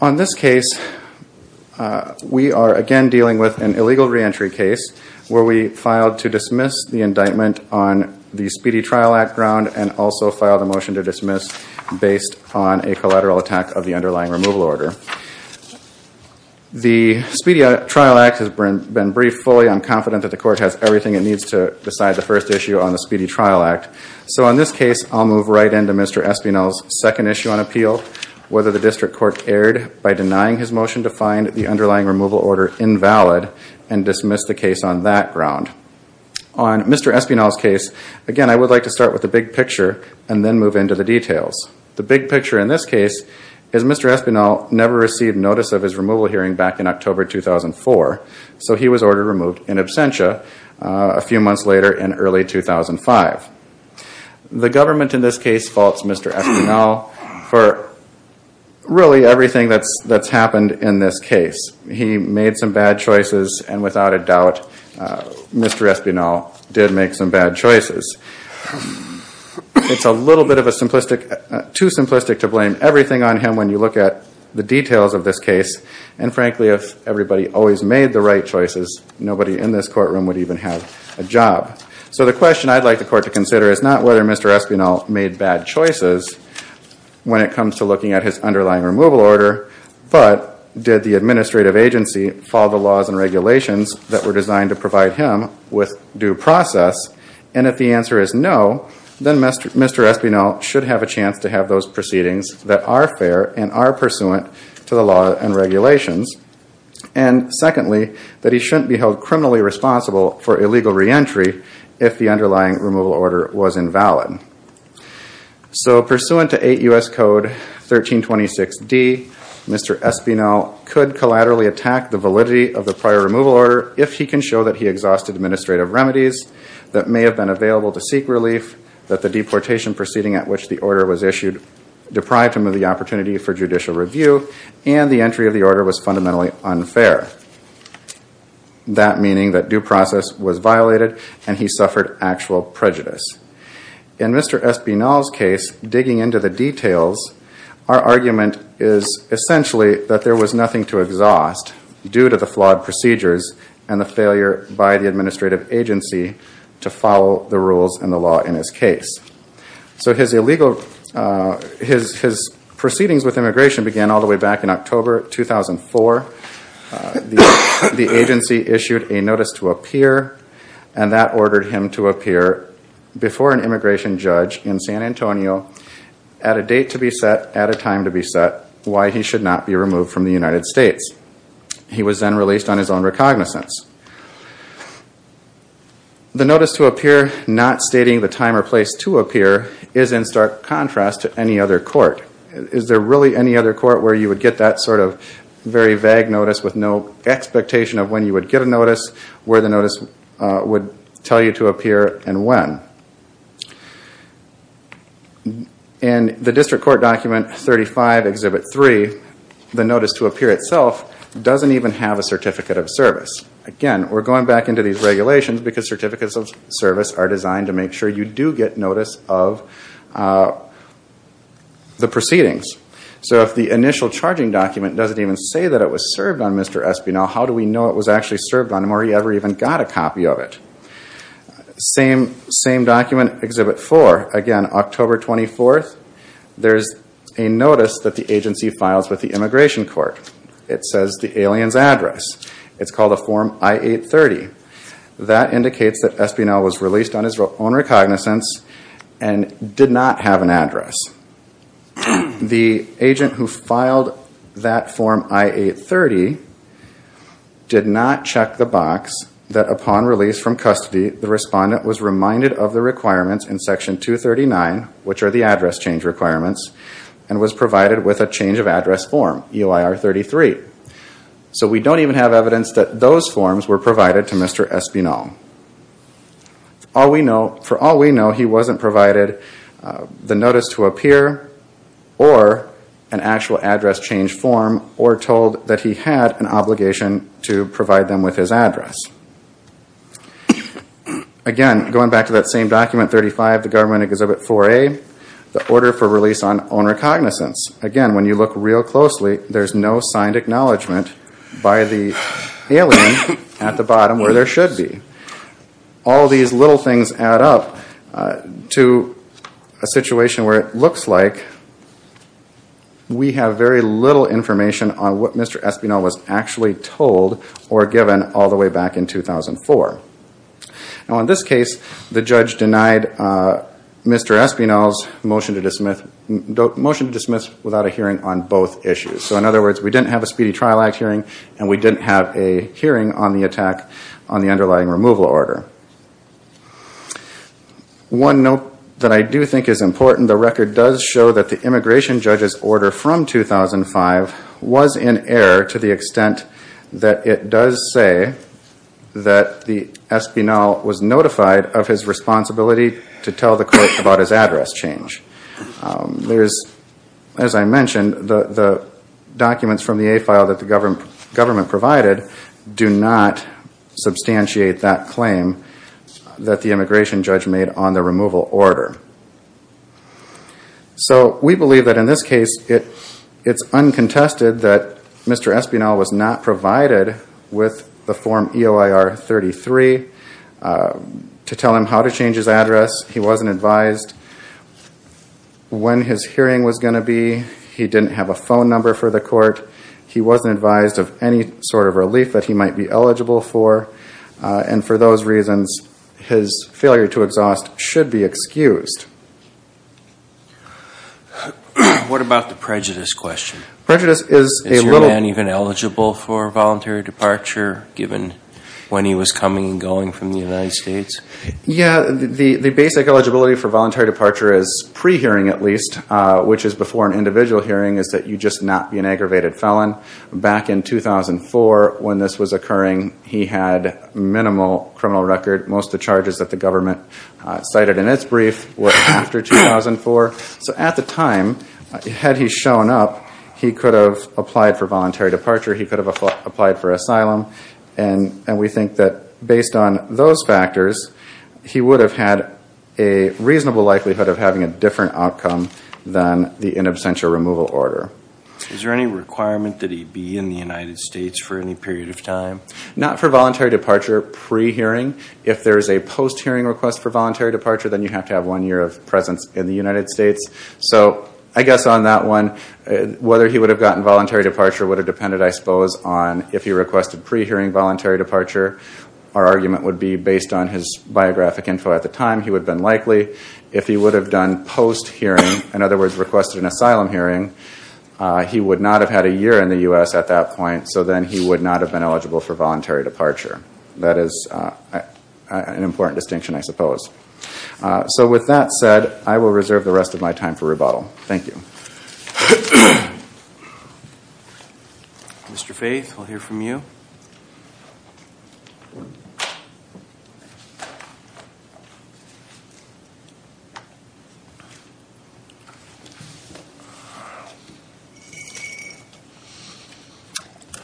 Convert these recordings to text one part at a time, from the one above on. On this case, we are again dealing with an illegal reentry case where we filed to dismiss the indictment on the Speedy Trial Act ground and also filed a motion to dismiss based on a collateral attack of the underlying removal order. The Speedy Trial Act has been briefed fully. I'm confident that the court has everything it needs to decide the first issue on the appeal, whether the district court erred by denying his motion to find the underlying removal order invalid and dismiss the case on that ground. On Mr. Espinal's case, again, I would like to start with the big picture and then move into the details. The big picture in this case is Mr. Espinal never received notice of his removal hearing back in October 2004, so he was ordered removed in absentia a few months later in early 2005. The government in this case faults Mr. Espinal for really everything that's happened in this case. He made some bad choices, and without a doubt, Mr. Espinal did make some bad choices. It's a little bit of a simplistic, too simplistic to blame everything on him when you look at the details of this case, and frankly, if everybody always made the right choices, nobody in this courtroom would even have a job. So the question I'd like the court to consider is not whether Mr. Espinal made bad choices when it comes to looking at his underlying removal order, but did the administrative agency follow the laws and regulations that were designed to provide him with due process, and if the answer is no, then Mr. Espinal should have a chance to have those proceedings that are fair and are pursuant to the law and regulations, and secondly, that he shouldn't be held criminally responsible for illegal reentry if the underlying removal order was invalid. So pursuant to 8 U.S. Code 1326D, Mr. Espinal could collaterally attack the validity of the prior removal order if he can show that he exhausted administrative remedies that may have been available to seek relief, that the deportation proceeding at which the order was issued deprived him of the opportunity for judicial review, and the entry of the order was fundamentally unfair. That meaning that due process was violated and he suffered actual prejudice. In Mr. Espinal's case, digging into the details, our argument is essentially that there was nothing to exhaust due to the flawed procedures and the failure by the administrative agency to follow the rules and the law in his case. So his proceedings with immigration began all the way back in 2004. The agency issued a notice to appear and that ordered him to appear before an immigration judge in San Antonio at a date to be set, at a time to be set, why he should not be removed from the United States. He was then released on his own recognizance. The notice to appear not stating the time or place to appear is in stark contrast to any other court. Is there really any other court where you would get that sort of very vague notice with no expectation of when you would get a notice, where the notice would tell you to appear and when? In the District Court Document 35, Exhibit 3, the notice to appear itself doesn't even have a certificate of service. Again, we're going back into these regulations because of the proceedings. So if the initial charging document doesn't even say that it was served on Mr. Espinal, how do we know it was actually served on him or he ever even got a copy of it? Same document, Exhibit 4. Again, October 24th, there's a notice that the agency files with the Immigration Court. It says the alien's address. It's called a Form I-830. That indicates that Espinal was released on his own recognizance and did not have an address. The agent who filed that Form I-830 did not check the box that upon release from custody, the respondent was reminded of the requirements in Section 239, which are the address change requirements, and was provided with a change of address form, EOIR-33. So we don't even have evidence that those forms were provided to Mr. Espinal. For all we know, he wasn't provided the notice to appear or an actual address change form or told that he had an obligation to provide them with his address. Again, going back to that same document, Exhibit 35, the Government Exhibit 4A, the order for release on own recognizance. Again, when you look real closely, there's no signed acknowledgment by the alien at the bottom where there should be. All these little things add up to a situation where it looks like we have very little information on what Mr. Espinal was actually told or given all the way back in 2004. Now in this case, the judge denied Mr. Espinal's motion to dismiss without a hearing on both issues. So in other words, we didn't have a Speedy Trial Act hearing and we didn't have a hearing on the attack on the underlying removal order. One note that I do think is important, the record does show that the immigration judge's order from 2005 was in error to the extent that it does say that the Espinal was notified of his responsibility to tell the court about his address change. As I mentioned, the documents from the A file that the government provided do not substantiate that claim that the immigration judge made on the removal order. So we believe that in this case, it's uncontested that Mr. Espinal was not provided with the Form EOIR-33 to tell him how to change his address. He wasn't advised when his hearing was going to be. He didn't have a phone number for the court. He wasn't advised of any sort of relief that he might be eligible for. And for those reasons, his failure to exhaust should be What about the prejudice question? Is your man even eligible for voluntary departure given when he was coming and going from the United States? The basic eligibility for voluntary departure is pre-hearing at least, which is before an individual hearing, is that you just not be an aggravated felon. Back in 2004 when this was occurring, he had minimal criminal record. Most of the charges that the government cited in its brief were after 2004. So at the time, had he shown up, he could have applied for voluntary departure. He could have applied for asylum. And we think that based on those factors, he would have had a reasonable likelihood of having a different outcome than the in absentia removal order. Is there any requirement that he be in the United States for any period of time? Not for voluntary departure pre-hearing. If there is a post-hearing request for voluntary departure, then you have to have one year of presence in the United States. So I guess on that one, whether he would have gotten voluntary departure would have depended I suppose on if he requested pre-hearing voluntary departure. Our argument would be based on his biographic info at the time, he would have been likely. If he would have done post-hearing, in other words requested an asylum hearing, he would not have had a year in the U.S. at that point. So then he would not have been eligible for voluntary departure. That is an important distinction I suppose. So with that said, I will reserve the rest of my time for rebuttal. Thank you. Mr. Faith, we'll hear from you.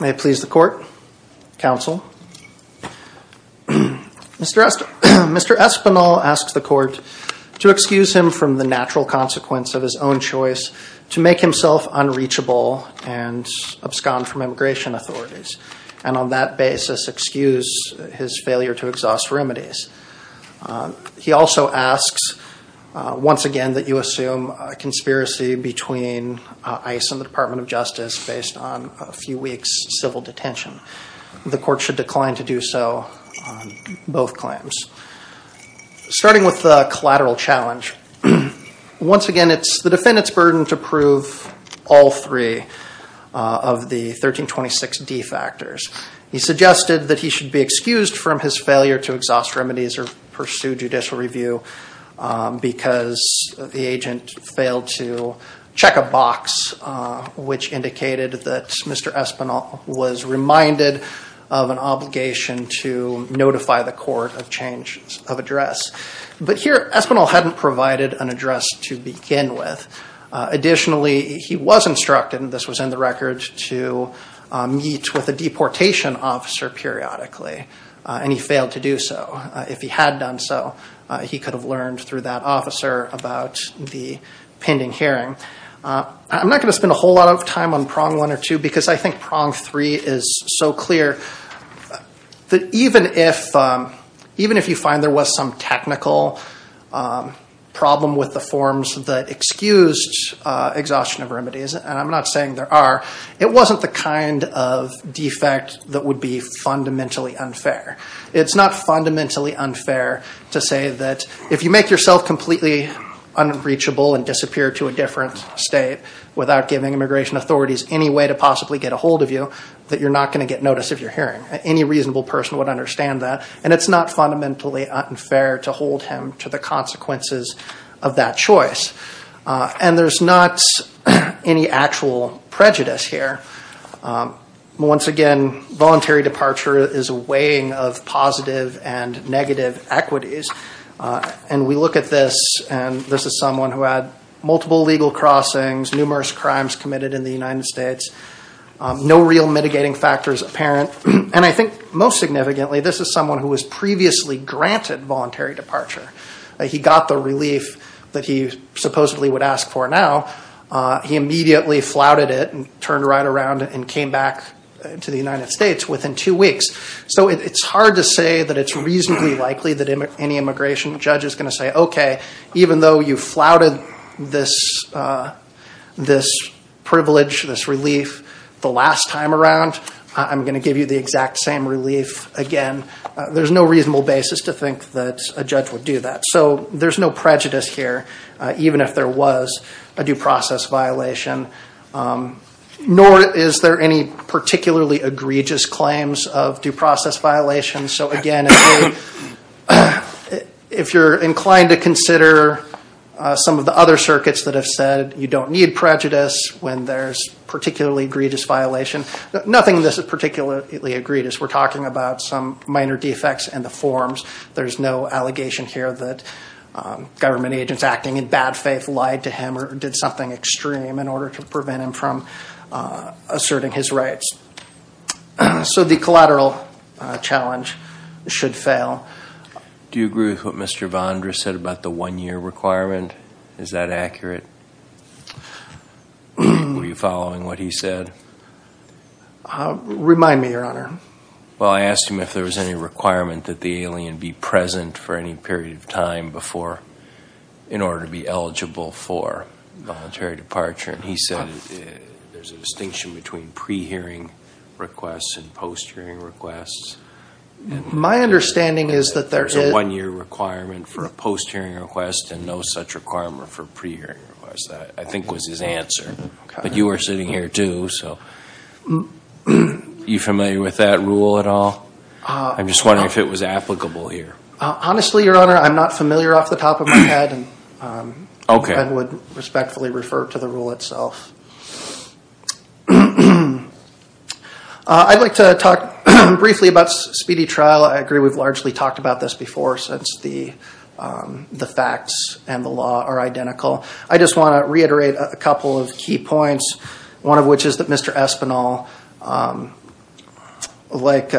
May it please the court, counsel. Mr. Espinel asks the court to excuse him from the natural consequence of his own choice to make himself unreachable and abscond from immigration authorities and on that basis excuse his failure to exhaust remedies. He also asks once again that you assume a conspiracy between ICE and the Department of Justice based on a few weeks civil detention. The court should decline to do so on both claims. Starting with the collateral challenge, once again it's the defendant's burden to prove all three of the 1326D factors. He suggested that he should be excused from his failure to exhaust remedies or pursue judicial review because the agent failed to check a box which indicated that Mr. Espinel was reminded of an obligation to notify the court of change of address. But here Espinel hadn't provided an address to begin with. Additionally, he was instructed, and this was in the record, to meet with a deportation officer periodically and he failed to do so. If he had done so, he could have learned through that officer about the pending hearing. I'm not going to spend a whole lot of time on prong one or two because I think prong three is so clear that even if you find a technical problem with the forms that excused exhaustion of remedies, and I'm not saying there are, it wasn't the kind of defect that would be fundamentally unfair. It's not fundamentally unfair to say that if you make yourself completely unreachable and disappear to a different state without giving immigration authorities any way to possibly get a hold of you, that you're not going to get notice of your hearing. Any reasonable person would understand that. It's not fundamentally unfair to hold him to the consequences of that choice. And there's not any actual prejudice here. Once again, voluntary departure is a weighing of positive and negative equities. And we look at this, and this is someone who had multiple legal crossings, numerous crimes committed in the United States, no real mitigating factors apparent. And I think most significantly, this is someone who was previously granted voluntary departure. He got the relief that he supposedly would ask for now. He immediately flouted it and turned right around and came back to the United States within two weeks. So it's hard to say that it's reasonably likely that any immigration judge is going to say, okay, even though you flouted this privilege, this relief, the last time around, you're I'm going to give you the exact same relief again. There's no reasonable basis to think that a judge would do that. So there's no prejudice here, even if there was a due process violation, nor is there any particularly egregious claims of due process violations. So again, if you're inclined to consider some of the other circuits that have said you don't need prejudice when there's particularly egregious violation, nothing that's particularly egregious. We're talking about some minor defects in the forms. There's no allegation here that government agents acting in bad faith lied to him or did something extreme in order to prevent him from asserting his rights. So the collateral challenge should fail. Do you agree with what Mr. Bondra said about the one year requirement? Is that accurate? Were you following what he said? Remind me, your honor. Well, I asked him if there was any requirement that the alien be present for any period of time before, in order to be eligible for voluntary departure. And he said there's a distinction between pre-hearing requests and post-hearing requests. My understanding is that there is a one year requirement for a post-hearing request and no such requirement for a pre-hearing request. That, I think, was his answer. But you are sitting here too, so. Are you familiar with that rule at all? I'm just wondering if it was applicable here. Honestly, your honor, I'm not familiar off the top of my head. I would respectfully refer to the rule itself. I'd like to talk briefly about speedy trial. I agree we've largely talked about this before since the facts and the law are identical. I just want to reiterate a couple of key points. One of which is that Mr. Espinal, like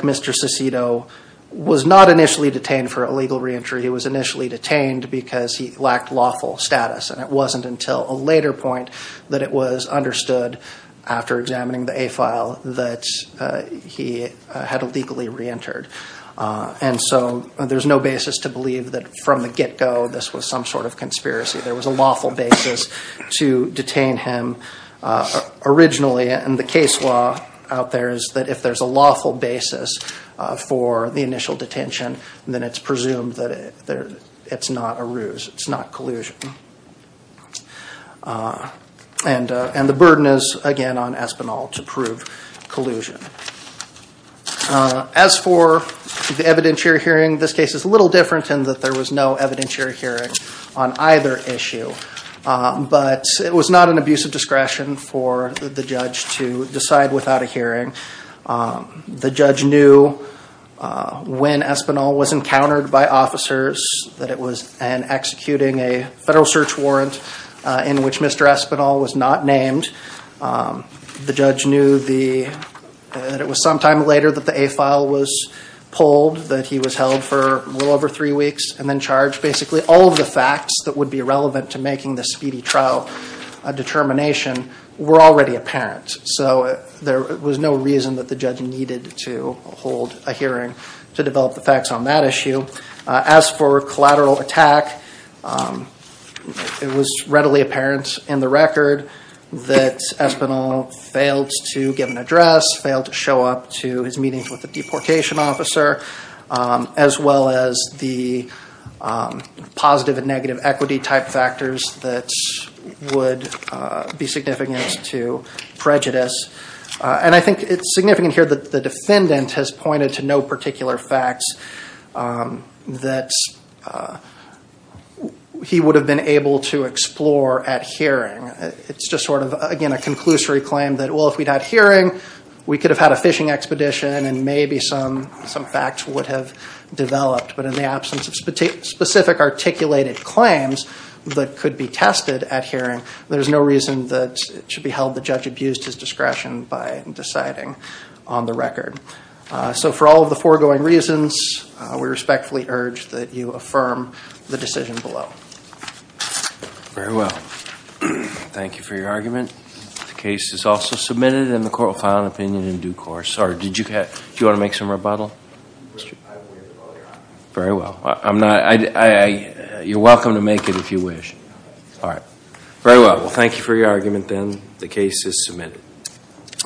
Mr. Cicito, was not initially detained for illegal reentry. He was initially detained because he lacked lawful status. And it wasn't until a later point that it was understood, after examining the A-file, that he had illegally reentered. And so there's no basis to believe that from the get-go this was some sort of conspiracy. There was a lawful basis to detain him originally. And the case law out there is that if there's a lawful basis for the initial detention, then it's presumed that it's not a ruse. It's not collusion. And the burden is, again, on Espinal to prove collusion. As for the evidentiary hearing, this case is a little different in that there was no evidentiary hearing on either issue. But it was not an abuse of discretion for the judge to decide without a hearing. The judge knew when Espinal was encountered by officers, that it was an executing a federal search warrant in which Mr. Espinal was not named. The judge knew that it was some time later that the A-file was pulled, that he was held for a little over three weeks and then charged. Basically all of the facts that would be relevant to making the speedy trial determination were already apparent. So there was no reason that the judge needed to hold a hearing to develop the facts on that issue. As for collateral attack, it was readily apparent in the record that Espinal failed to give an address, failed to show up to his meetings with the deportation officer, as well as the positive and negative equity type factors that would be significant to prejudice. And I think it's significant here that the defendant has pointed to no particular facts that he would have been able to explore at hearing. It's just sort of, again, a conclusory claim that well, if we'd had a hearing, we could have had a fishing expedition and maybe some facts would have developed. But in the absence of specific articulated claims that could be tested at hearing, there's no reason that it should be held that the judge abused his deciding on the record. So for all of the foregoing reasons, we respectfully urge that you affirm the decision below. Very well. Thank you for your argument. The case is also submitted and the court will file an opinion in due course. Do you want to make some rebuttal? Very well. You're welcome to make it if you wish. All right. Very well. Well, thank you for your argument then. The case is submitted.